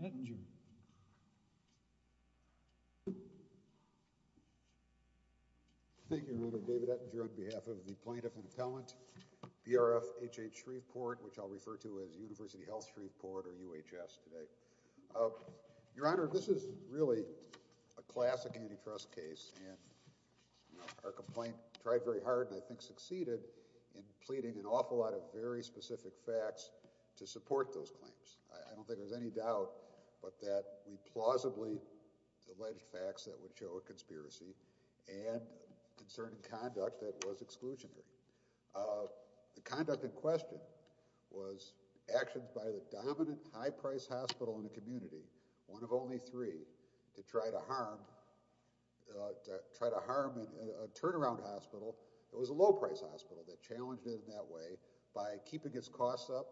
Thank you, Your Honor. David Ettinger on behalf of the Plaintiff and Appellant, BRFHH Shreveport, which I'll refer to as University Health Shreveport or UHS today. Your Honor, this is really a classic antitrust case, and our complaint tried very hard and I think succeeded in pleading an awful lot of very specific facts to support those claims. I don't think there's any doubt but that we plausibly alleged facts that would show a conspiracy, and in certain conduct that was exclusionary. The conduct in question was actions by the dominant high-priced hospital in the community, one of only three, to try to harm a turnaround hospital that was a low-priced hospital that challenged it in that way by keeping its costs up,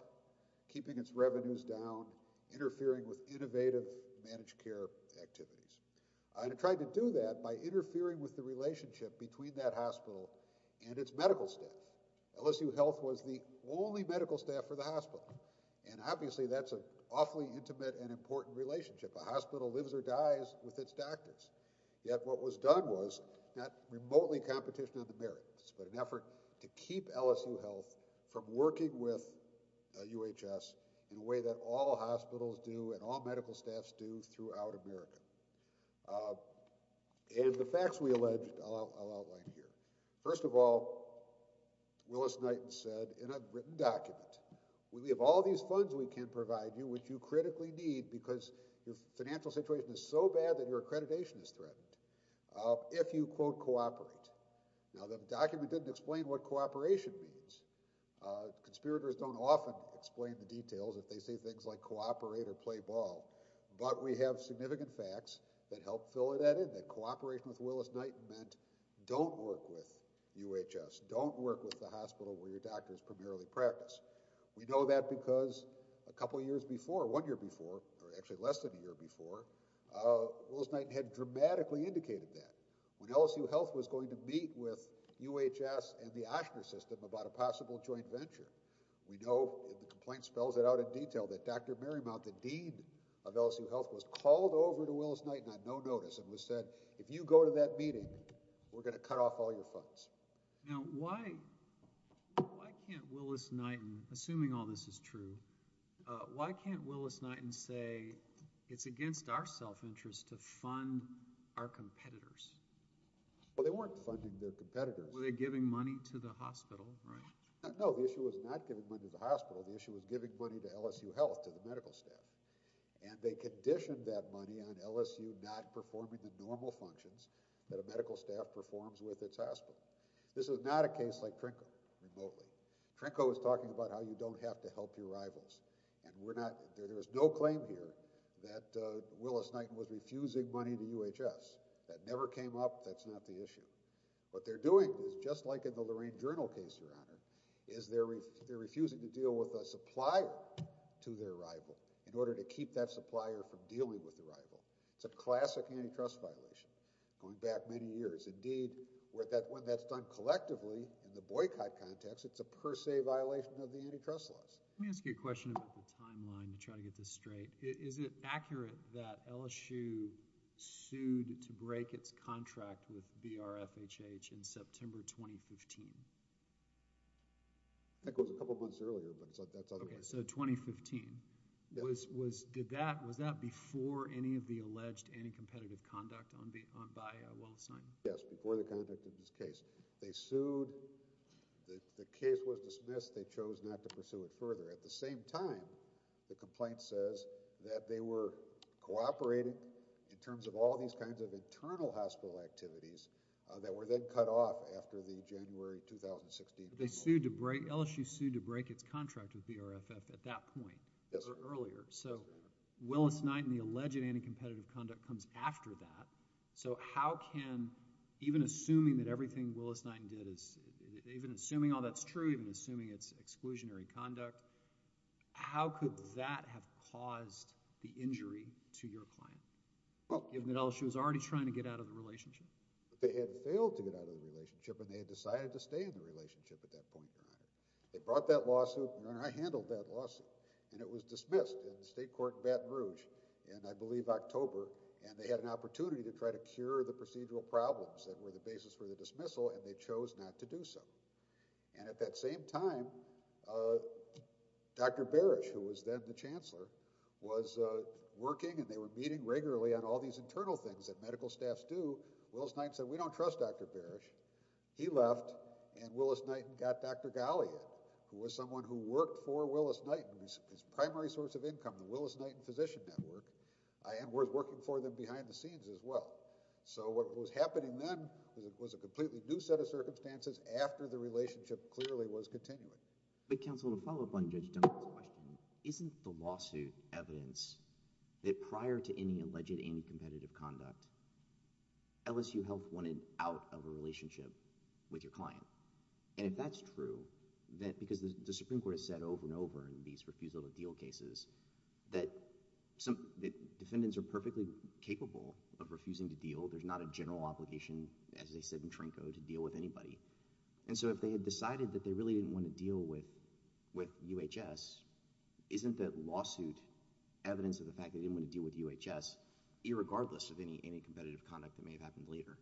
keeping its revenues down, interfering with innovative managed care activities. And it tried to do that by interfering with the relationship between that hospital and its medical staff. LSU Health was the only medical staff for the hospital, and obviously that's an awfully intimate and important relationship. A hospital lives or dies with its doctors, yet what was done was not remotely competition on the merits, but an effort to keep LSU Health from working with UHS in a way that all hospitals do and all medical staffs do throughout America. And the facts we alleged, I'll outline here. First of all, Willis Knighton said in a written document, we have all these funds we can provide you, which you critically need because your financial situation is so bad that your accreditation is Now the document didn't explain what cooperation means. Conspirators don't often explain the details if they say things like cooperate or play ball, but we have significant facts that help fill that in, that cooperation with Willis Knighton meant don't work with UHS, don't work with the hospital where your doctors primarily practice. We know that because a couple years before, one year before, or actually less than a year before, Willis Knighton had dramatically indicated that. When LSU Health was going to meet with UHS and the OSHNA system about a possible joint venture, we know, the complaint spells it out in detail, that Dr. Marymount, the Dean of LSU Health, was called over to Willis Knighton on no notice and was said, if you go to that meeting, we're gonna cut off all your funds. Now why, why can't Willis Knighton, assuming all this is true, why can't our self-interest to fund our competitors? Well they weren't funding their competitors. Were they giving money to the hospital, right? No, the issue was not giving money to the hospital, the issue was giving money to LSU Health, to the medical staff, and they conditioned that money on LSU not performing the normal functions that a medical staff performs with its hospital. This is not a case like Trinco, remotely. Trinco is talking about how you don't have to help your rivals, and we're reason that Willis Knighton was refusing money to UHS, that never came up, that's not the issue. What they're doing, just like in the Lorraine Journal case, Your Honor, is they're, they're refusing to deal with a supplier to their rival in order to keep that supplier from dealing with the rival. It's a classic antitrust violation, going back many years. Indeed, where that, when that's done collectively, in the boycott context, it's a per se violation of the antitrust laws. Let me ask you a question about the timeline to try to get this straight. Is it accurate that LSU sued to break its contract with BRFHH in September 2015? That goes a couple months earlier, but that's otherwise. Okay, so 2015. Was, was, did that, was that before any of the alleged anti-competitive conduct on the, on, by Willis Knighton? Yes, before the conduct of this case. They sued, the, the case was dismissed, they chose not to pursue it further. At the same time, the complaint says that they were cooperating in terms of all these kinds of internal hospital activities that were then cut off after the January 2016. They sued to break, LSU sued to break its contract with BRFHH at that point. Yes, sir. Or earlier. So, Willis Knighton, the alleged anti-competitive conduct comes after that, so how can, even assuming that everything Willis Knighton did is, even assuming all that's true, even assuming it's exclusionary conduct, how could that have caused the injury to your client? Given that LSU was already trying to get out of the relationship? They had failed to get out of the relationship and they had decided to stay in the relationship at that point in time. They brought that and they had an opportunity to try to cure the procedural problems that were the basis for the dismissal and they chose not to do so. And at that same time, Dr. Barish, who was then the Chancellor, was working and they were meeting regularly on all these internal things that medical staffs do. Willis Knighton said, we don't trust Dr. Barish. He left and Willis Knighton got Dr. Galea, who was someone who worked for Willis Knighton, his primary source of and was working for them behind the scenes as well. So what was happening then was a completely new set of circumstances after the relationship clearly was continuing. But counsel, to follow up on Judge Dunbar's question, isn't the lawsuit evidence that prior to any alleged anti-competitive conduct, LSU Health wanted out of a relationship with your client? And if that's true, because the Supreme Court has said over and over in these refusal to deal cases that defendants are perfectly capable of refusing to deal. There's not a general obligation, as they said in Trinko, to deal with anybody. And so if they had decided that they really didn't want to deal with UHS, isn't the lawsuit evidence of the fact they didn't want to deal with UHS, irregardless of any competitive conduct that may have happened later?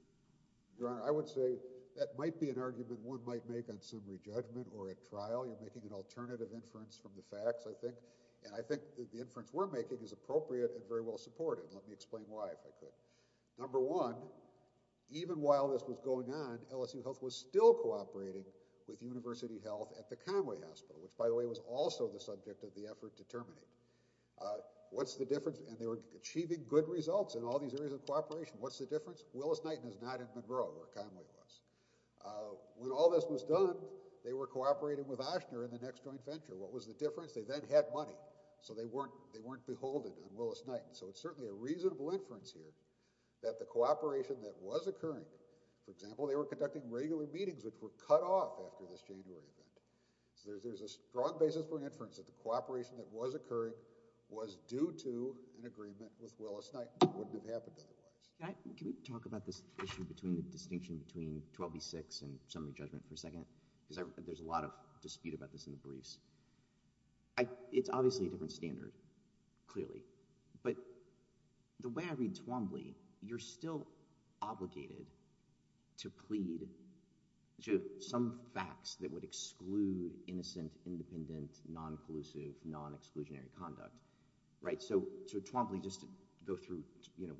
Your Honor, I would say that might be an argument one might make on summary judgment or at trial. You're making an alternative inference from the facts, I think. And I think the inference we're making is appropriate and very well supported. Let me explain why, if I could. Number one, even while this was going on, LSU Health was still cooperating with University Health at the Conway Hospital, which, by the way, was also the subject of the effort to terminate. What's the difference? And they were achieving good results in all these areas of cooperation. What's the difference? Willis-Knighton is not in Monroe, where Conway was. When all this was done, they were cooperating with Ochsner in the next joint venture. What was the difference? They then had money, so they weren't beholden on Willis-Knighton. So it's certainly a reasonable inference here that the cooperation that was occurring, for example, they were conducting regular meetings, which were cut off after this January event. So there's a strong basis for inference that the cooperation that was occurring was due to an agreement with Willis-Knighton. Can we talk about this issue between the distinction between 12v6 and summary judgment for a second? Because there's a lot of dispute about this in the briefs. It's obviously a different standard, clearly, but the way I read Twombly, you're still obligated to plead to some facts that would exclude innocent, independent, non-collusive, non-exclusionary conduct. So Twombly, just to go through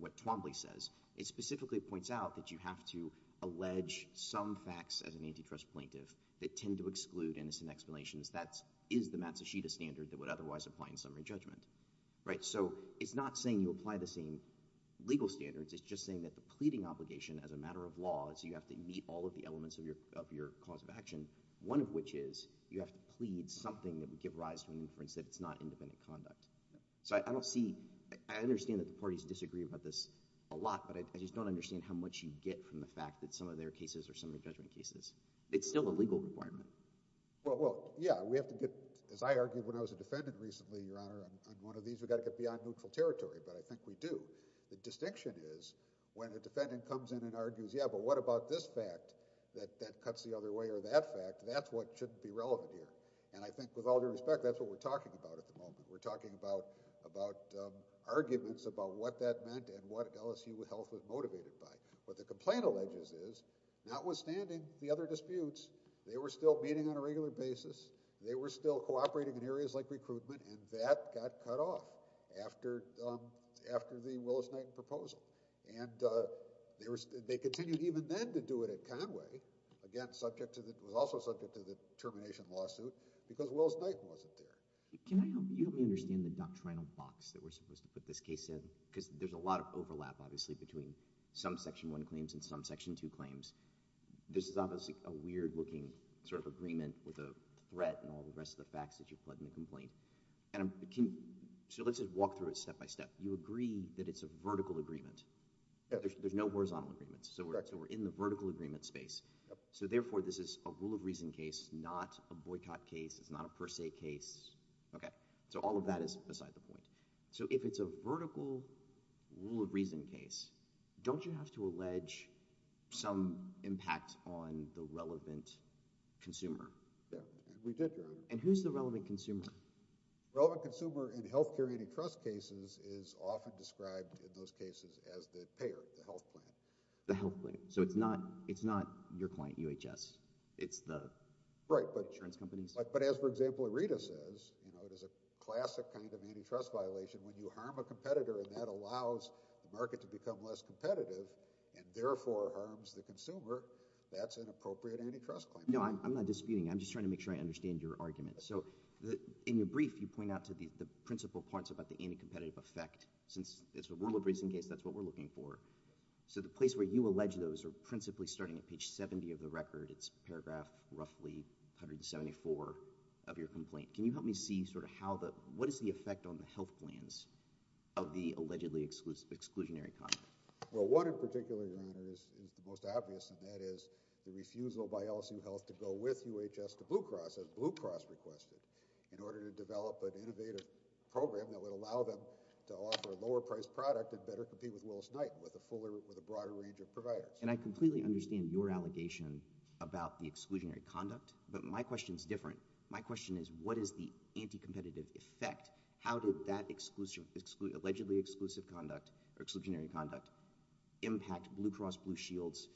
what Twombly says, it specifically points out that you have to allege some facts as an antitrust plaintiff that tend to exclude innocent explanations. That is the Matsushita standard that would otherwise apply in summary judgment. So it's not saying you apply the same legal standards. It's just saying that the pleading obligation as a matter of law is you have to meet all of the elements of your cause of action, one of which is you have to plead something that would give rise to an inference that it's not independent conduct. So I don't see – I understand that the parties disagree about this a lot, but I just don't understand how much you get from the fact that some of their cases are summary judgment cases. It's still a legal requirement. Well, yeah, we have to get – as I argued when I was a defendant recently, Your Honor, on one of these we've got to get beyond neutral territory, but I think we do. The distinction is when a defendant comes in and argues, yeah, but what about this fact that cuts the other way or that fact, that's what shouldn't be relevant here. And I think with all due respect, that's what we're talking about at the moment. We're talking about arguments about what that meant and what LSU Health was motivated by. What the complaint alleges is notwithstanding the other disputes, they were still meeting on a regular basis. They were still cooperating in areas like recruitment, and that got cut off after the Willis-Knighton proposal. And they continued even then to do it at Conway, again, subject to the – it was also subject to the termination lawsuit because Willis-Knighton wasn't there. Can I – you don't really understand the doctrinal box that we're supposed to put this case in because there's a lot of overlap, obviously, between some Section 1 claims and some Section 2 claims. This is obviously a weird-looking sort of agreement with a threat and all the rest of the facts that you put in the complaint. So let's just walk through it step by step. You agree that it's a vertical agreement. There's no horizontal agreement, so we're in the vertical agreement space. So therefore, this is a rule of reason case, not a boycott case. It's not a per se case. So all of that is beside the point. So if it's a vertical rule of reason case, don't you have to allege some impact on the relevant consumer? And who's the relevant consumer? Relevant consumer in health care antitrust cases is often described in those cases as the payer, the health plan. The health plan. So it's not your client, UHS. It's the insurance companies. But as, for example, IRITA says, it is a classic kind of antitrust violation. When you harm a competitor and that allows the market to become less competitive and therefore harms the consumer, that's an appropriate antitrust claim. No, I'm not disputing. I'm just trying to make sure I understand your argument. So in your brief, you point out to the principal points about the anti-competitive effect. Since it's a rule of reason case, that's what we're looking for. So the place where you allege those are principally starting at page 70 of the record. It's paragraph roughly 174 of your complaint. Can you help me see sort of what is the effect on the health plans of the allegedly exclusionary conduct? Well, one in particular, Your Honor, is the most obvious, and that is the refusal by LSU Health to go with UHS to Blue Cross, as Blue Cross requested, in order to develop an innovative program that would allow them to offer a lower-priced product and better compete with Willis-Knighton with a broader range of providers. And I completely understand your allegation about the exclusionary conduct, but my question is different. My question is what is the anti-competitive effect? How did that allegedly exclusive conduct, or exclusionary conduct, impact Blue Cross Blue Shield's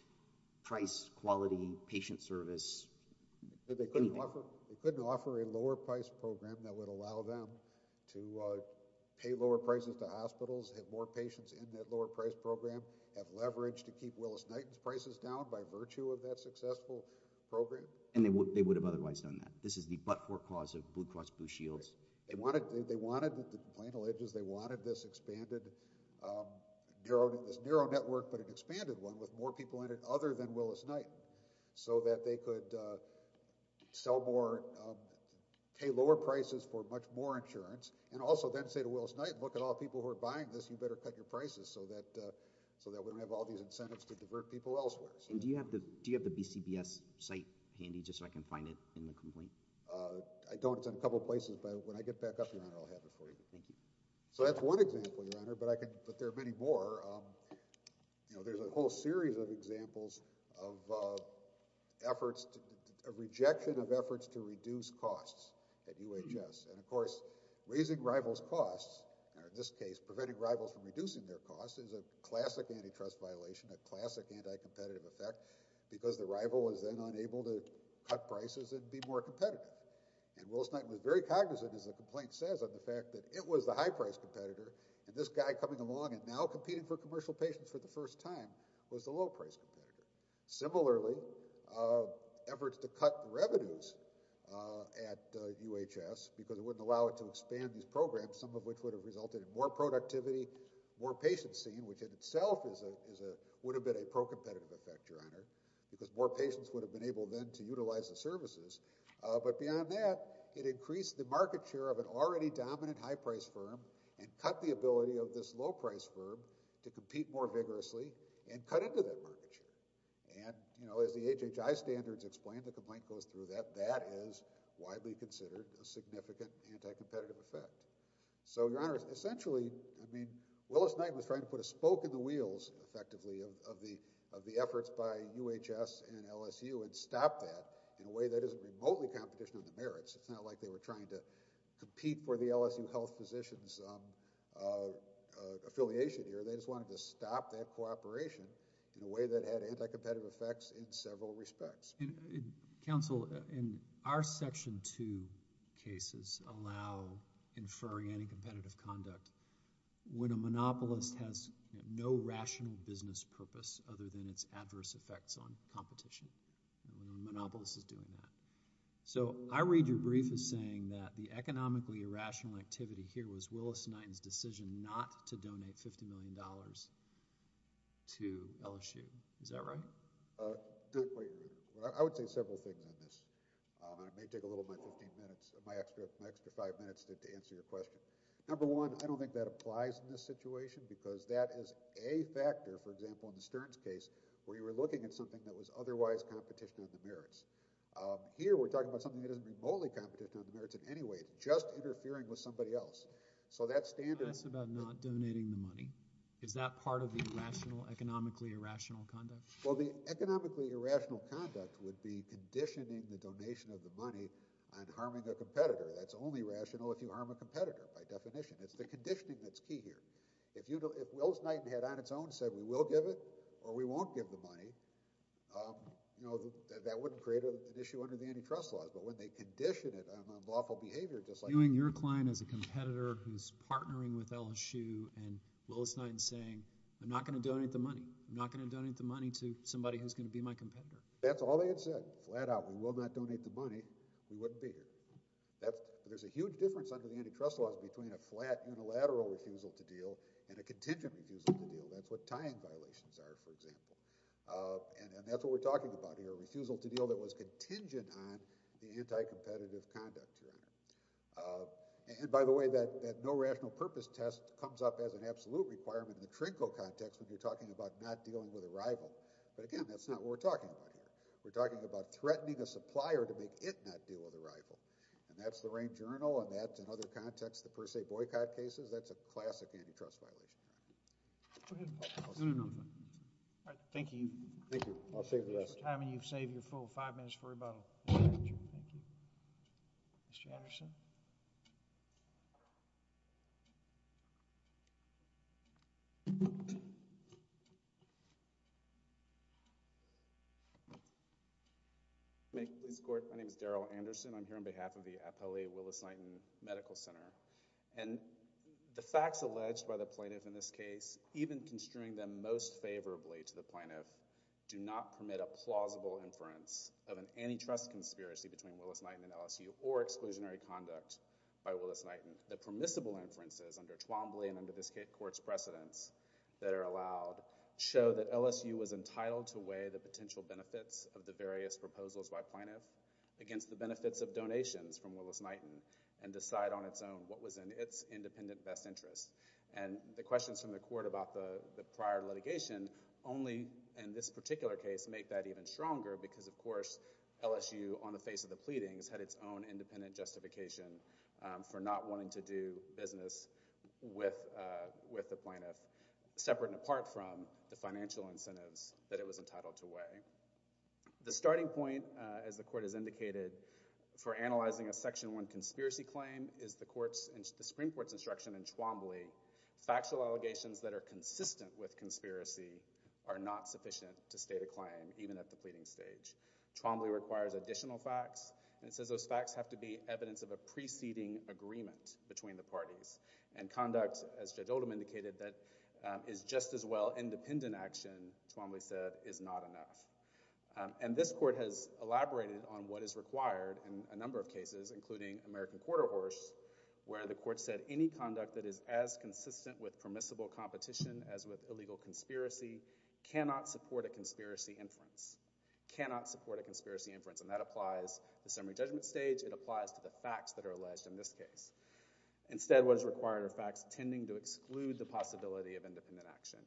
price, quality, patient service, anything? They couldn't offer a lower-priced program that would allow them to pay lower prices to hospitals, have more patients in that lower-priced program, have leverage to keep Willis-Knighton's prices down by virtue of that successful program? And they would have otherwise done that. This is the but-for cause of Blue Cross Blue Shields. They wanted this expanded, this narrow network but an expanded one with more people in it other than Willis-Knighton so that they could sell more, pay lower prices for much more insurance and also then say to Willis-Knighton, look at all the people who are buying this, you better cut your prices so that we don't have all these incentives to divert people elsewhere. And do you have the BCBS site handy just so I can find it in the complaint? I don't. It's in a couple of places, but when I get back up, Your Honor, I'll have it for you. Thank you. So that's one example, Your Honor, but there are many more. There's a whole series of examples of efforts, a rejection of efforts to reduce costs at UHS. And, of course, raising rivals' costs, or in this case preventing rivals from reducing their costs, is a classic antitrust violation, a classic anti-competitive effect because the rival is then unable to cut prices and be more competitive. And Willis-Knighton was very cognizant, as the complaint says, of the fact that it was the high-priced competitor, and this guy coming along and now competing for commercial patients for the first time was the low-priced competitor. Similarly, efforts to cut revenues at UHS because it wouldn't allow it to expand these programs, some of which would have resulted in more productivity, more patients seen, which in itself would have been a pro-competitive effect, Your Honor, because more patients would have been able then to utilize the services. But beyond that, it increased the market share of an already dominant high-priced firm and cut the ability of this low-priced firm to compete more vigorously and cut into that market share. And, you know, as the HHI standards explain, the complaint goes through that, that is widely considered a significant anti-competitive effect. So, Your Honor, essentially, I mean, Willis-Knighton was trying to put a spoke in the wheels, effectively, of the efforts by UHS and LSU and stop that in a way that isn't remotely competition on the merits. It's not like they were trying to compete for the LSU Health Physicians affiliation here. They just wanted to stop that cooperation in a way that had anti-competitive effects in several respects. Counsel, in our Section 2 cases allow inferring anti-competitive conduct when a monopolist has no rational business purpose other than its adverse effects on competition. A monopolist is doing that. So, I read your brief as saying that the economically irrational activity here was Willis-Knighton's decision not to donate $50 million to LSU. Is that right? I would say several things on this. It may take a little of my 15 minutes, my extra 5 minutes to answer your question. Number one, I don't think that applies in this situation because that is a factor, for example, in the Stearns case, where you were looking at something that was otherwise competition on the merits. Here, we're talking about something that isn't remotely competition on the merits in any way, just interfering with somebody else. So, that standard... It's about not donating the money. Is that part of the rational, economically irrational conduct? Well, the economically irrational conduct would be conditioning the donation of the money on harming a competitor. That's only rational if you harm a competitor, by definition. It's the conditioning that's key here. If Willis-Knighton had, on its own, said, we will give it or we won't give the money, that wouldn't create an issue under the antitrust laws. But when they condition it on lawful behavior, just like... Viewing your client as a competitor who's partnering with LSU, and Willis-Knighton's saying, I'm not going to donate the money. I'm not going to donate the money to somebody who's going to be my competitor. That's all they had said. Flat out, we will not donate the money. We wouldn't be here. There's a huge difference under the antitrust laws between a flat, unilateral refusal to deal and a contingent refusal to deal. That's what tying violations are, for example. And that's what we're talking about here, a refusal to deal that was contingent on the anti-competitive conduct here. And by the way, that no rational purpose test comes up as an absolute requirement in the TRNCO context when you're talking about not dealing with a rival. But again, that's not what we're talking about here. We're talking about threatening a supplier to make it not deal with a rival. And that's the Rain Journal, and that's, in other contexts, the Per Se Boycott Cases. That's a classic antitrust violation. Go ahead. No, no, no. All right, thank you. Thank you. I'll save the rest. I mean, you've saved your full five minutes for rebuttal. Thank you. Mr. Anderson? My name is Darrell Anderson. I'm here on behalf of the Appellee Willis-Knighton Medical Center. And the facts alleged by the plaintiff in this case, even construing them most favorably to the plaintiff, do not permit a plausible inference of an antitrust conspiracy between Willis-Knighton and LSU or exclusionary conduct by Willis-Knighton. The permissible inferences under Twombly and under this court's precedence that are allowed show that LSU was entitled to weigh the potential benefits of the various proposals by plaintiff against the benefits of donations from Willis-Knighton and decide on its own what was in its independent best interest. And the questions from the court about the prior litigation only, in this particular case, make that even stronger because, of course, LSU, on the face of the pleadings, had its own independent justification for not wanting to do business with the plaintiff, separate and apart from the financial incentives that it was entitled to weigh. The starting point, as the court has indicated, for analyzing a Section 1 conspiracy claim is the Supreme Court's instruction in Twombly, factual allegations that are consistent with conspiracy are not sufficient to state a claim, even at the pleading stage. Twombly requires additional facts, and it says those facts have to be evidence of a preceding agreement between the parties. And conduct, as Judge Oldham indicated, that is just as well independent action, Twombly said, is not enough. And this court has elaborated on what is required in a number of cases, including American Quarter Horse, where the court said any conduct that is as consistent with permissible competition as with illegal conspiracy cannot support a conspiracy inference, cannot support a conspiracy inference, and that applies to the summary judgment stage, it applies to the facts that are alleged in this case. Instead, what is required are facts tending to exclude the possibility of independent action.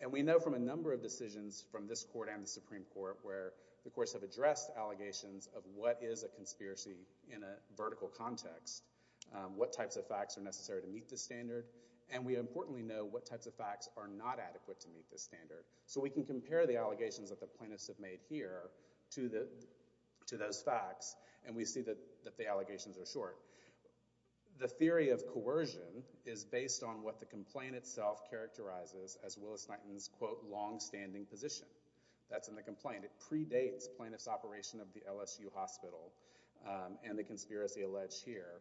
And we know from a number of decisions from this court and the Supreme Court where the courts have addressed allegations of what is a conspiracy in a vertical context, what types of facts are necessary to meet this standard, and we importantly know what types of facts are not adequate to meet this standard. So we can compare the allegations that the plaintiffs have made here to those facts, and we see that the allegations are short. The theory of coercion is based on what the complaint itself characterizes as Willis-Knighton's, quote, long-standing position. That's in the complaint. It predates plaintiffs' operation of the LSU hospital and the conspiracy alleged here.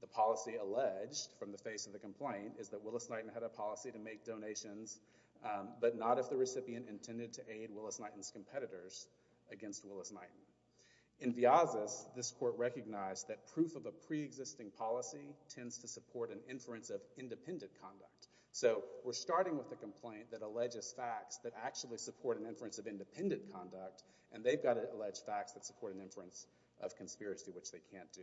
The policy alleged from the face of the complaint is that Willis-Knighton had a policy to make donations but not if the recipient intended to aid Willis-Knighton's competitors against Willis-Knighton. In Vyazas, this court recognized that proof of a preexisting policy tends to support an inference of independent conduct. So we're starting with a complaint that alleges facts that actually support an inference of independent conduct, and they've got alleged facts that support an inference of conspiracy, which they can't do.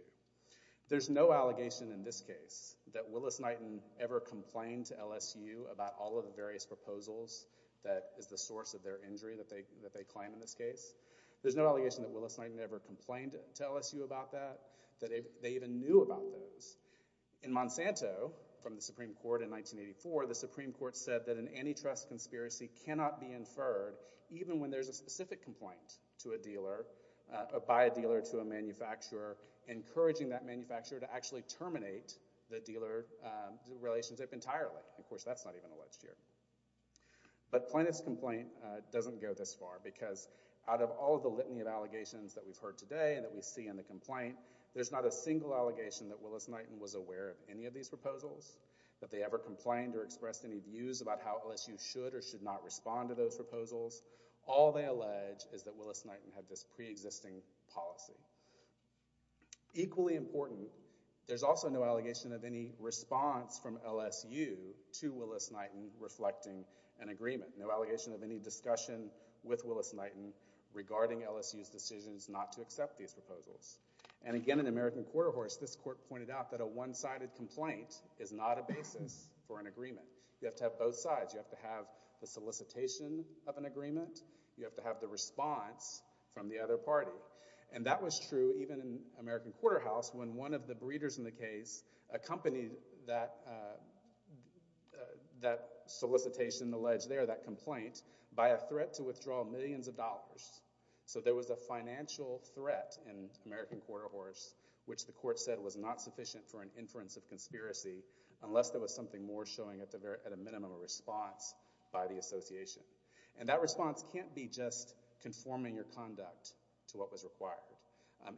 There's no allegation in this case that Willis-Knighton ever complained to LSU about all of the various proposals that is the source of their injury that they claim in this case. There's no allegation that Willis-Knighton ever complained to LSU about that, that they even knew about those. In Monsanto, from the Supreme Court in 1984, the Supreme Court said that an antitrust conspiracy cannot be inferred even when there's a specific complaint to a dealer, by a dealer to a manufacturer, encouraging that manufacturer to actually terminate the dealer relationship entirely. Of course, that's not even alleged here. But plaintiff's complaint doesn't go this far because out of all the litany of allegations that we've heard today and that we see in the complaint, there's not a single allegation that Willis-Knighton was aware of any of these proposals, that they ever complained or expressed any views about how LSU should or should not respond to those proposals. All they allege is that Willis-Knighton had this preexisting policy. Equally important, there's also no allegation of any response from LSU to Willis-Knighton reflecting an agreement. No allegation of any discussion with Willis-Knighton regarding LSU's decisions not to accept these proposals. And again, in American Quarter Horse, this court pointed out that a one-sided complaint is not a basis for an agreement. You have to have both sides. You have to have the solicitation of an agreement. You have to have the response from the other party. And that was true even in American Quarter House when one of the breeders in the case accompanied that solicitation alleged there, that complaint, by a threat to withdraw millions of dollars. So there was a financial threat in American Quarter Horse which the court said was not sufficient for an inference of conspiracy unless there was something more showing at a minimum a response by the association. And that response can't be just conforming your conduct to what was required.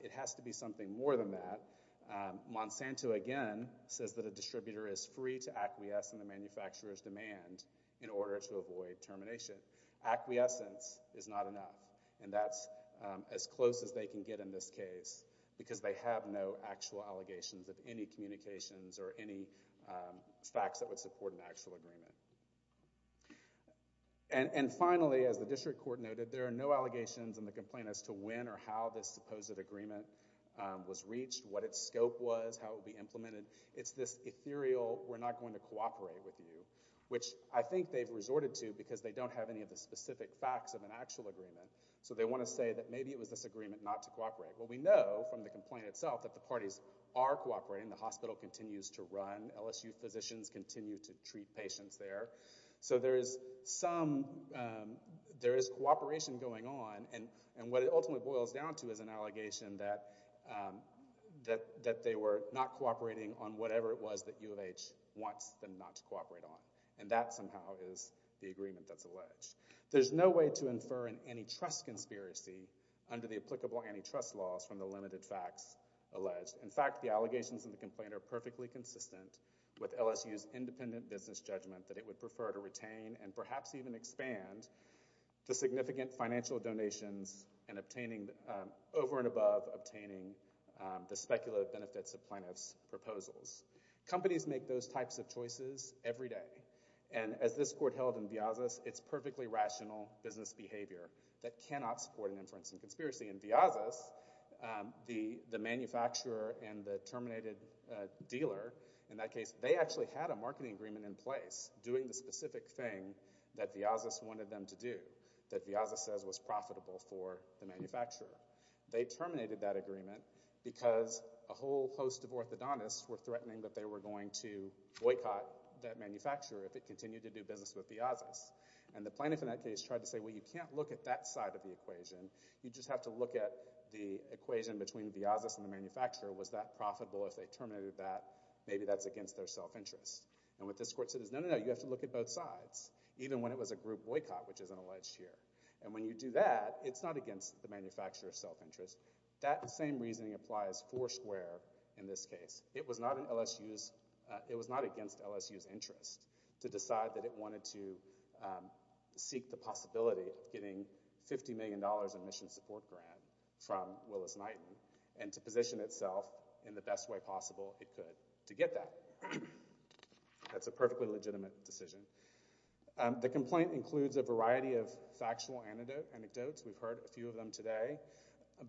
It has to be something more than that. Monsanto, again, says that a distributor is free to acquiesce in the manufacturer's demand in order to avoid termination. Acquiescence is not enough. And that's as close as they can get in this case because they have no actual allegations of any communications or any facts that would support an actual agreement. And finally, as the district court noted, there are no allegations in the complaint as to when or how this supposed agreement was reached, what its scope was, how it would be implemented. It's this ethereal, we're not going to cooperate with you, which I think they've resorted to because they don't have any of the specific facts of an actual agreement. So they want to say that maybe it was this agreement not to cooperate. Well, we know from the complaint itself that the parties are cooperating. The hospital continues to run. LSU physicians continue to treat patients there. So there is cooperation going on. And what it ultimately boils down to is an allegation that they were not cooperating on whatever it was that U of H wants them not to cooperate on. And that somehow is the agreement that's alleged. There's no way to infer an antitrust conspiracy under the applicable antitrust laws from the limited facts alleged. In fact, the allegations in the complaint are perfectly consistent with LSU's independent business judgment that it would prefer to retain and perhaps even expand to significant financial donations and obtaining over and above the speculative benefits of plaintiffs' proposals. Companies make those types of choices every day. And as this court held in Vyazas, it's perfectly rational business behavior that cannot support an inference and conspiracy. In Vyazas, the manufacturer and the terminated dealer, in that case, they actually had a marketing agreement in place doing the specific thing that Vyazas wanted them to do, that Vyazas says was profitable for the manufacturer. They terminated that agreement because a whole host of orthodontists were threatening that they were going to boycott that manufacturer if it continued to do business with Vyazas. And the plaintiff in that case tried to say, well, you can't look at that side of the equation. You just have to look at the equation between Vyazas and the manufacturer. Was that profitable if they terminated that? Maybe that's against their self-interest. And what this court said is, no, no, no, you have to look at both sides, even when it was a group boycott, which isn't alleged here. And when you do that, it's not against the manufacturer's self-interest. That same reasoning applies for Square in this case. It was not against LSU's interest to decide that it wanted to seek the possibility of getting $50 million in mission support grant from Willis-Knighton and to position itself in the best way possible it could to get that. That's a perfectly legitimate decision. The complaint includes a variety of factual anecdotes. We've heard a few of them today.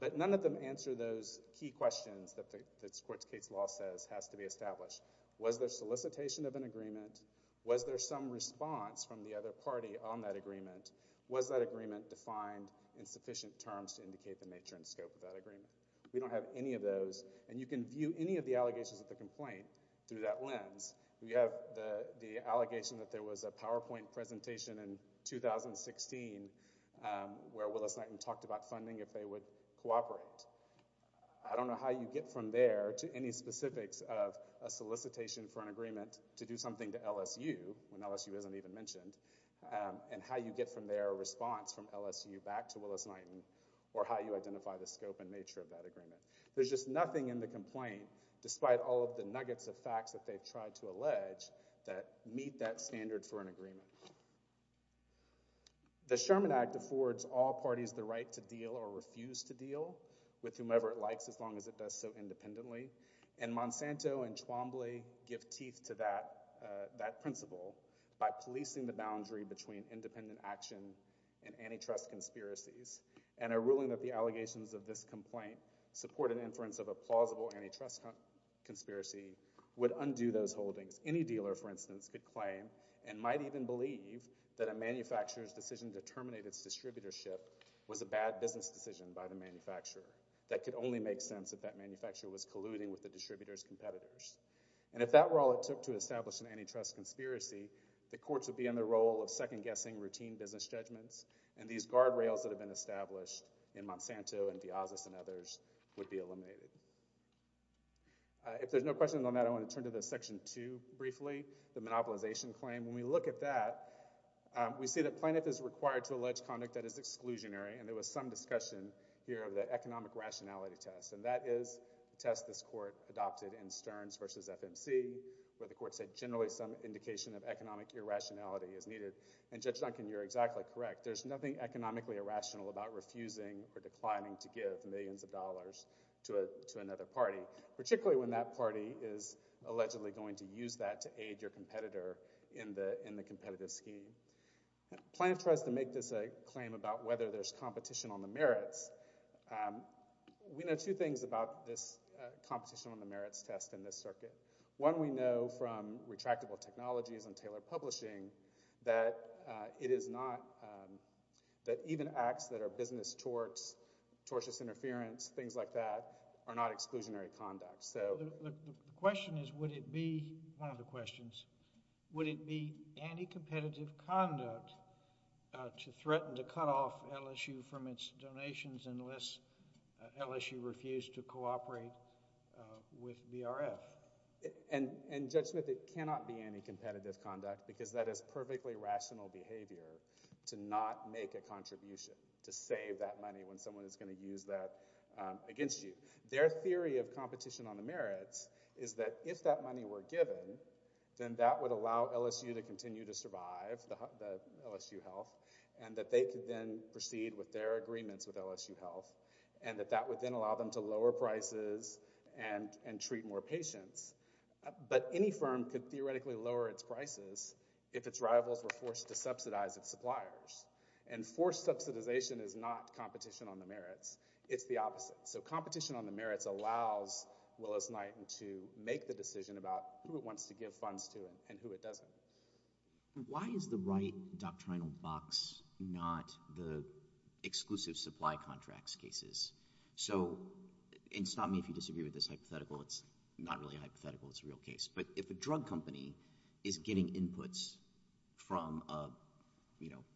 But none of them answer those key questions that the court's case law says has to be established. Was there solicitation of an agreement? Was there some response from the other party on that agreement? Was that agreement defined in sufficient terms to indicate the nature and scope of that agreement? We don't have any of those. And you can view any of the allegations of the complaint through that lens. We have the allegation that there was a PowerPoint presentation in 2016 where Willis-Knighton talked about funding if they would cooperate. I don't know how you get from there to any specifics of a solicitation for an agreement to do something to LSU, when LSU isn't even mentioned, and how you get from there a response from LSU back to Willis-Knighton or how you identify the scope and nature of that agreement. There's just nothing in the complaint, despite all of the nuggets of facts that they've tried to allege that meet that standard for an agreement. The Sherman Act affords all parties the right to deal or refuse to deal with whomever it likes as long as it does so independently. And Monsanto and Chwombly give teeth to that principle by policing the boundary between independent action and antitrust conspiracies and are ruling that the allegations of this complaint support an inference of a plausible antitrust conspiracy would undo those holdings. Any dealer, for instance, could claim and might even believe that a manufacturer's decision to terminate its distributorship was a bad business decision by the manufacturer. That could only make sense if that manufacturer was colluding with the distributor's competitors. And if that were all it took to establish an antitrust conspiracy, the courts would be in the role of second-guessing routine business judgments, and these guardrails that have been established in Monsanto and Diaz's and others would be eliminated. If there's no questions on that, I want to turn to Section 2 briefly, the monopolization claim. When we look at that, we see that plaintiff is required to allege conduct that is exclusionary, and there was some discussion here of the economic rationality test, and that is a test this court adopted in Stearns v. FMC where the court said generally some indication of economic irrationality is needed. And Judge Duncan, you're exactly correct. There's nothing economically irrational about refusing or declining to give millions of dollars to another party, particularly when that party is allegedly going to use that to aid your competitor in the competitive scheme. Plaintiff tries to make this a claim about whether there's competition on the merits. We know two things about this competition on the merits test in this circuit. One we know from retractable technologies and Taylor Publishing that it is not, that even acts that are business torts, tortious interference, things like that, are not exclusionary conduct. The question is, would it be, one of the questions, would it be anti-competitive conduct to threaten to cut off LSU from its donations unless LSU refused to cooperate with BRF? And Judge Smith, it cannot be anti-competitive conduct because that is perfectly rational behavior to not make a contribution to save that money when someone is going to use that against you. Their theory of competition on the merits is that if that money were given, then that would allow LSU to continue to survive the LSU health, and that they could then proceed with their agreements with LSU health, and that that would then allow them to lower prices and treat more patients. But any firm could theoretically lower its prices if its rivals were forced to subsidize its suppliers. And forced subsidization is not competition on the merits. It's the opposite. So competition on the merits allows Willis-Knighton to make the decision about who it wants to give funds to and who it doesn't. Why is the right doctrinal box not the exclusive supply contracts cases? So, and stop me if you disagree with this hypothetical. It's not really a hypothetical. It's a real case. But if a drug company is getting inputs from a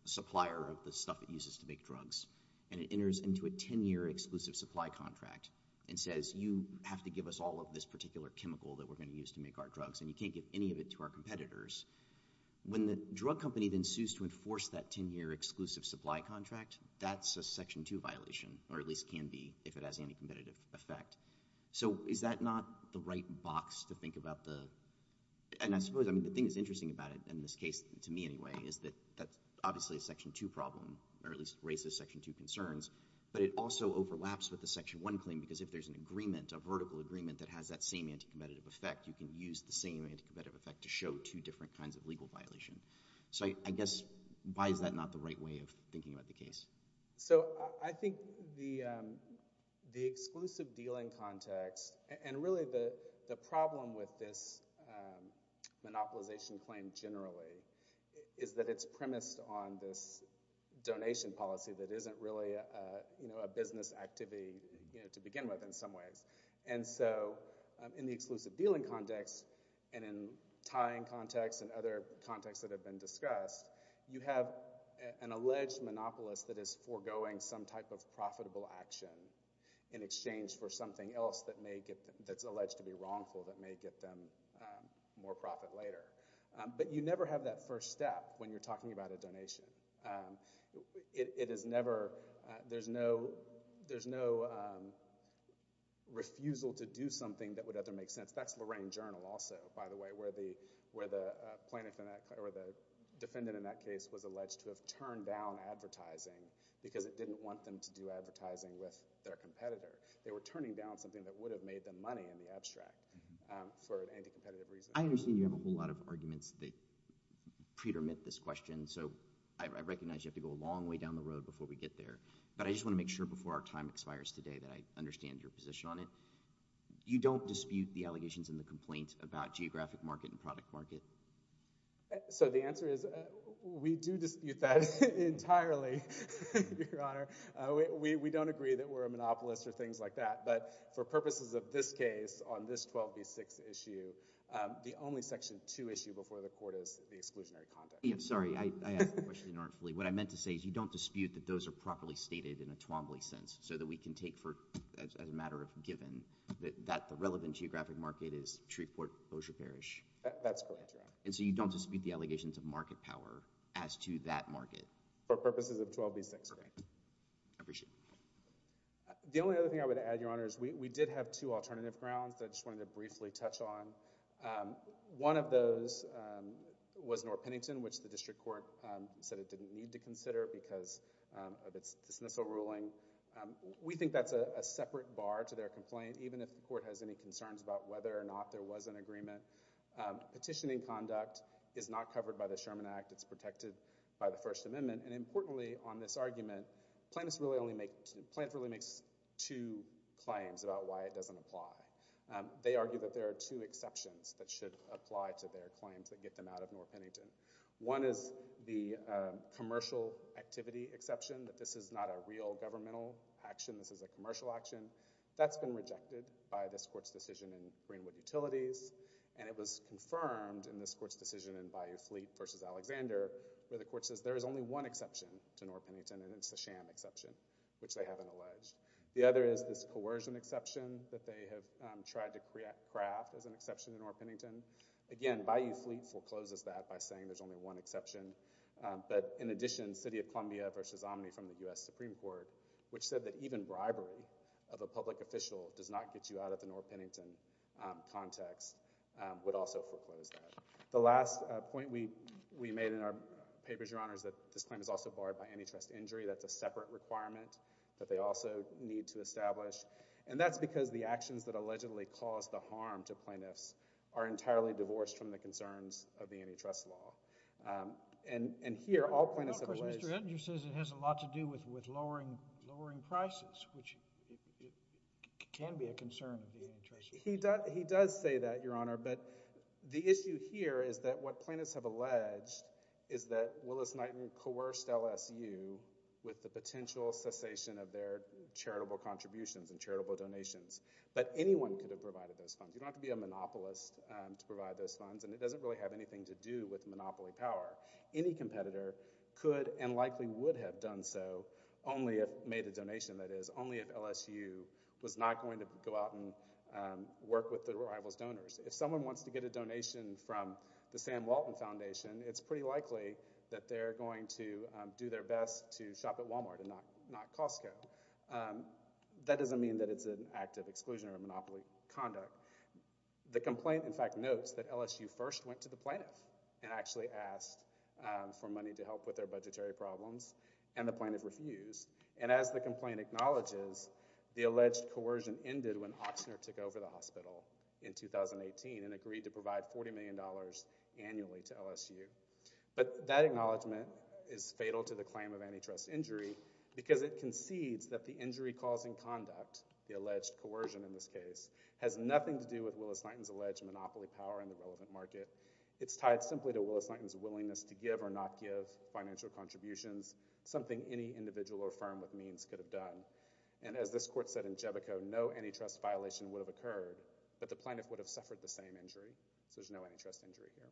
supplier of the stuff it uses to make drugs, and it enters into a 10-year exclusive supply contract and says, you have to give us all of this particular chemical that we're going to use to make our drugs, and you can't give any of it to our competitors, when the drug company then sues to enforce that 10-year exclusive supply contract, that's a Section 2 violation, or at least can be if it has any competitive effect. So is that not the right box to think about the and I suppose, I mean, the thing that's interesting about it in this case, to me anyway, is that obviously a Section 2 problem, or at least raises Section 2 concerns, but it also overlaps with the Section 1 claim because if there's an agreement, a vertical agreement that has that same anti-competitive effect, you can use the same anti-competitive effect to show two different kinds of legal violation. So I guess, why is that not the right way of thinking about the case? So I think the exclusive dealing context and really the problem with this monopolization claim generally is that it's premised on this donation policy that isn't really a business activity to begin with in some ways, and so in the exclusive dealing context and in tying context and other contexts that have been discussed you have an alleged monopolist that is foregoing some type of profitable action in exchange for something else that's alleged to be wrongful that may get them more profit later. But you never have that first step when you're talking about a donation. It is never, there's no there's no refusal to do something that would ever make sense. That's Lorraine Journal also, by the way, where the plaintiff in that, or the defendant in that case was alleged to have turned down advertising because it didn't want them to do advertising with their competitor. They were turning down something that would have made them money in the abstract for anti-competitive reasons. I understand you have a whole lot of arguments that pretermit this question, so I recognize you have to go a long way down the road before we get there, but I just want to make sure before our time expires today that I understand your position on it. You don't dispute the allegations and the complaints about geographic market and product market? So the answer is we do dispute that entirely, Your Honor. We don't agree that we're a monopolist or things like that, but for purposes of this case, on this 12b6 issue, the only section 2 issue before the court is the exclusionary conduct. I'm sorry, I asked the question inartfully. What I meant to say is you don't dispute that those are properly stated in a Twombly sense so that we can take for, as a matter of given, that the relevant geographic market is Shreveport, Bossier Parish. That's correct, Your Honor. And so you don't dispute the allegations of market power as to that market? For purposes of 12b6, Your Honor. I appreciate it. The only other thing I would add, Your Honor, is we did have two alternative grounds that I just wanted to briefly touch on. One of those was North Pennington, which the district court said it didn't need to consider because of its dismissal ruling. We think that's a separate bar to their complaint, even if the court has any concerns about whether or not there was an agreement. Petitioning conduct is not covered by the Sherman Act. It's protected by the First Amendment. And importantly on this argument, plaintiffs really only make two claims about why it doesn't apply. They argue that there are two exceptions that should apply to their claims that get them out of North Pennington. One is the commercial activity exception, that this is not a real governmental action. This is a commercial action. That's been rejected by this court's decision in Greenwood Utilities. And it was confirmed in this court's decision in Bayou Fleet v. Alexander where the court says there is only one exception to North Pennington, and it's the sham exception, which they haven't alleged. The other is this coercion exception that they have tried to craft as an exception to North Pennington. Again, Bayou Fleet forecloses that by saying there's only one exception. But in addition, City of Columbia v. Omni from the U.S. Supreme Court, which said that even bribery of a public official does not get you out of the North Pennington context, would also foreclose that. The last point we made in our papers, Your Honors, that this claim is also barred by antitrust injury. That's a separate requirement that they also need to establish. And that's because the actions that allegedly cause the harm to plaintiffs are entirely divorced from the concerns of the antitrust law. And here, all plaintiffs have alleged... ...it has a lot to do with lowering prices, which can be a concern of the antitrust law. He does say that, Your Honor, but the issue here is that what plaintiffs have alleged is that Willis-Knighton coerced LSU with the potential cessation of their charitable contributions and charitable donations. But anyone could have provided those funds. You don't have to be a monopolist to provide those funds, and it doesn't really have anything to do with monopoly power. Any competitor could and likely would have done so only if...made a donation, that is, only if LSU was not going to go out and work with the rival's donors. If someone wants to get a donation from the Sam Walton Foundation, it's pretty likely that they're going to do their best to shop at Walmart and not Costco. That doesn't mean that it's an act of exclusion or a monopoly conduct. The complaint, in fact, notes that Willis-Knighton actually asked for money to help with their budgetary problems, and the plaintiff refused. And as the complaint acknowledges, the alleged coercion ended when Ochsner took over the hospital in 2018 and agreed to provide $40 million annually to LSU. But that acknowledgement is fatal to the claim of antitrust injury because it concedes that the injury-causing conduct, the alleged coercion in this case, has nothing to do with Willis-Knighton's alleged monopoly power in the relevant market. It's tied simply to Willis-Knighton's willingness to give or not give financial contributions, something any individual or firm with means could have done. And as this court said in Jebico, no antitrust violation would have occurred, but the plaintiff would have suffered the same injury, so there's no antitrust injury here.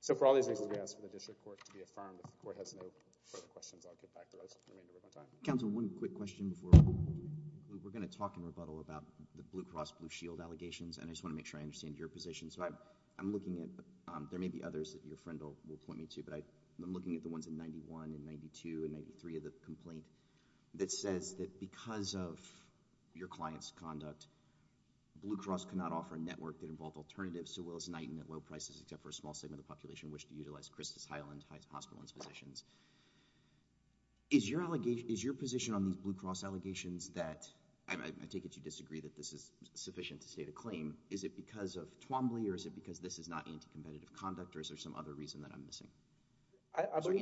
So for all these reasons, we ask for the district court to be affirmed. If the court has no further questions, I'll get back to those. We have time. We're going to talk in rebuttal about the Blue Cross Blue Shield allegations, and I just want to make sure I understand your position. So I'm looking at—there may be others that your friend will point me to, but I'm looking at the ones in 91 and 92 and 93 of the complaint that says that because of your client's conduct, Blue Cross could not offer a network that involved alternatives to Willis-Knighton at low prices except for a small segment of the population who wished to utilize Christus Highland Hospital and its physicians. Is your position on these Blue Cross allegations that—I take it you disagree that this is sufficient to state a claim. Is it because of Twombly, or is it because this is not anti-competitive conduct, or is there some other reason that I'm missing? Sorry,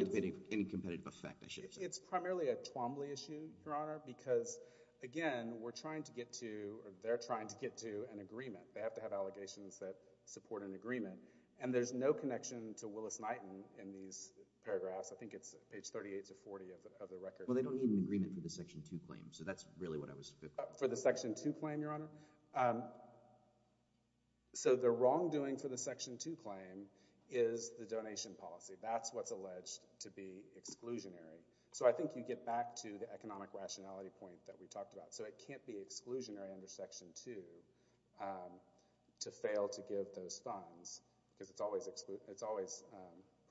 anti-competitive effect, I should have said. It's primarily a Twombly issue, Your Honor, because, again, we're trying to get to—or they're trying to get to an agreement. They have to have allegations that support an agreement, and there's no connection to Willis-Knighton in these paragraphs. I think it's page 38 to 40 of the record. Well, they don't need an agreement for the Section 2 claim, so that's really what I was— For the Section 2 claim, Your Honor? So the wrongdoing for the Section 2 claim is the donation policy. That's what's alleged to be exclusionary. So I think you get back to the economic rationality point that we talked about. So it can't be exclusionary under Section 2 to fail to give those funds because it's always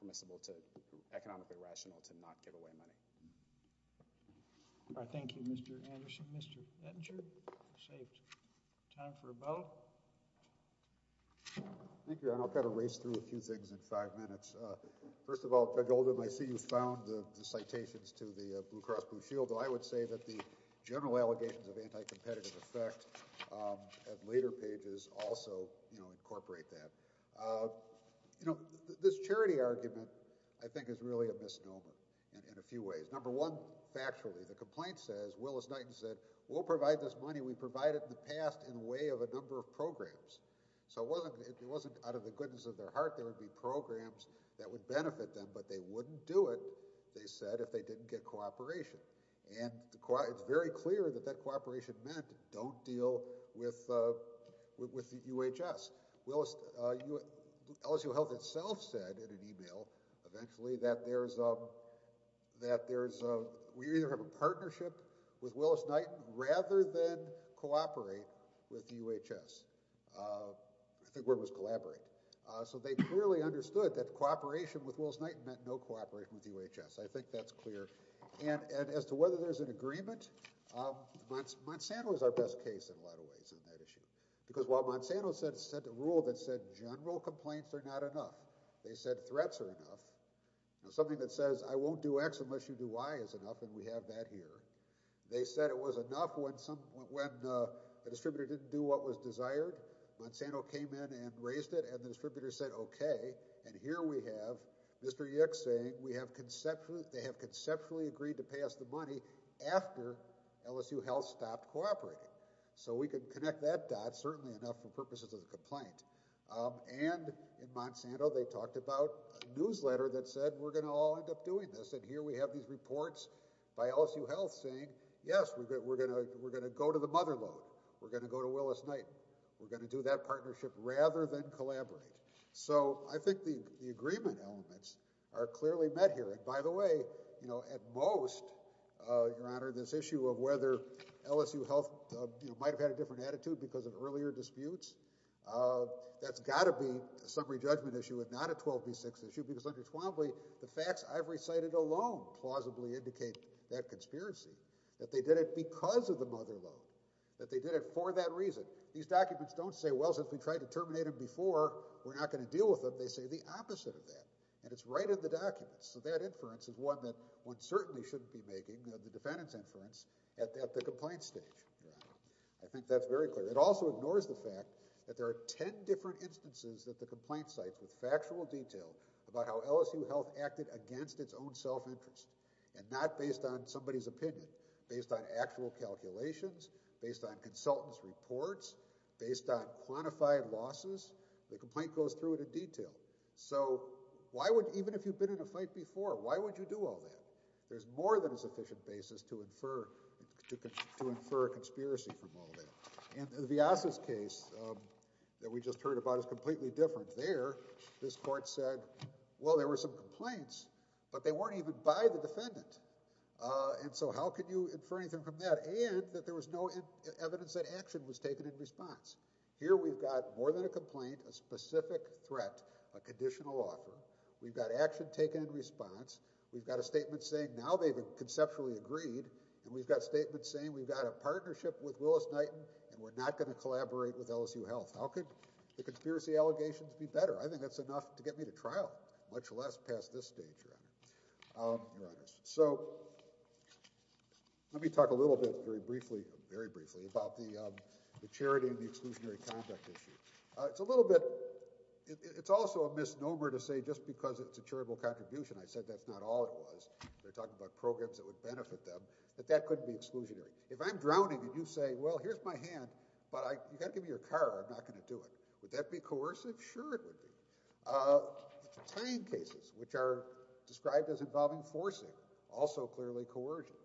permissible to—economically rational to not give away money. Thank you, Mr. Anderson. Mr. Ettinger? Time for a vote. Thank you, Your Honor. I'll kind of race through a few things in five minutes. First of all, Judge Oldham, I see you found the citations to the Blue Cross Blue Shield. I would say that the general allegations of anti-competitive effect at later pages also incorporate that. You know, this charity argument I think is really a misnomer in a few ways. Number one, factually, the complaint says, Willis-Knighton said, we'll provide this money. We've provided in the past in way of a number of programs. So it wasn't out of the goodness of their heart there would be programs that would benefit them, but they wouldn't do it, they said, if they didn't get cooperation. And it's very clear that that cooperation meant don't deal with the UHS. LSU Health itself said in an email eventually that there's we either have a partnership with Willis-Knighton rather than cooperate with the UHS. I think the word was collaborate. So they clearly understood that cooperation with Willis-Knighton meant no cooperation with the UHS. I think that's clear. And as to whether there's an agreement, Monsanto is our best case in a lot of ways in that issue. Because while Monsanto set a rule that said general complaints are not enough, they said threats are enough. Something that says I won't do X unless you do Y is enough, and we have that here. They said it was enough when the distributor didn't do what was desired. Monsanto came in and raised it, and the distributor said okay, and here we have Mr. Yick saying they have conceptually agreed to pay us the money after LSU Health stopped cooperating. So we can connect that dot, certainly enough for purposes of the complaint. And in Monsanto they talked about a newsletter that said we're going to all end up doing this, and here we have these reports by LSU Health saying yes, we're going to go to the mother load. We're going to go to Willis-Knighton. We're going to do that partnership rather than collaborate. So I think the agreement elements are clearly met here. And by the way, at most, Your Honor, this issue of whether LSU Health might have had a different attitude because of earlier disputes, that's got to be a summary judgment issue and not a 12B6 issue, because under 12B, the facts I've recited alone plausibly indicate that conspiracy, that they did it because of the mother load, that they did it for that reason. These documents don't say well, since we tried to terminate them before, we're not going to deal with them. They say the opposite of that, and it's right in the documents. So that inference is one that one certainly shouldn't be making, the defendant's inference, at the complaint stage. I think that's very clear. It also ignores the fact that there are 10 different instances that the complaint cites with factual detail about how LSU Health acted against its own self-interest, and not based on somebody's opinion, based on actual calculations, based on consultants' reports, based on quantified losses. The complaint goes through it in detail. So why would, even if you've been in a fight before, why would you do all that? There's more than a sufficient basis to get a conspiracy from all that. And Viasa's case, that we just heard about, is completely different. There, this court said, well, there were some complaints, but they weren't even by the defendant. And so how could you infer anything from that? And that there was no evidence that action was taken in response. Here we've got more than a complaint, a specific threat, a conditional offer. We've got action taken in response. We've got a statement saying now they've conceptually agreed. And we've got statements saying we've got a partnership with Willis-Knighton, and we're not going to collaborate with LSU Health. How could the conspiracy allegations be better? I think that's enough to get me to trial, much less past this stage, Your Honor. Your Honor, so let me talk a little bit very briefly, very briefly, about the charity and the exclusionary conduct issue. It's a little bit, it's also a misnomer to say just because it's a charitable contribution, I said that's not all it was. They're talking about programs that would benefit them, but that couldn't be exclusionary. If I'm drowning and you say, well, here's my hand, but you've got to give me your car, I'm not going to do it. Would that be coercive? Sure it would be. Tying cases, which are described as involving forcing, also clearly coercive.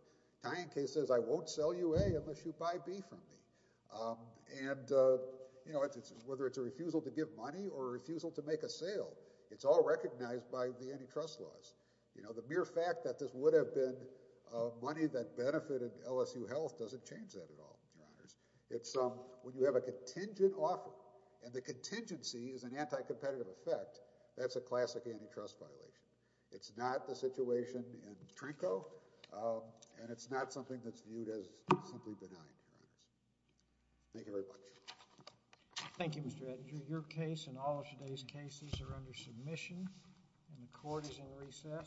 Tying cases, I won't sell you A unless you buy B from me. And whether it's a refusal to give money or a refusal to make a sale, it's all recognized by the antitrust laws. You know, the mere fact that this would have been money that benefited LSU Health doesn't change that at all, Your Honors. When you have a contingent offer and the contingency is an anti- competitive effect, that's a classic antitrust violation. It's not the situation in Trinco and it's not something that's viewed as simply benign. Thank you very much. Thank you, Mr. Edinger. Your case and all of today's cases are under submission and the court is in recess under the usual order.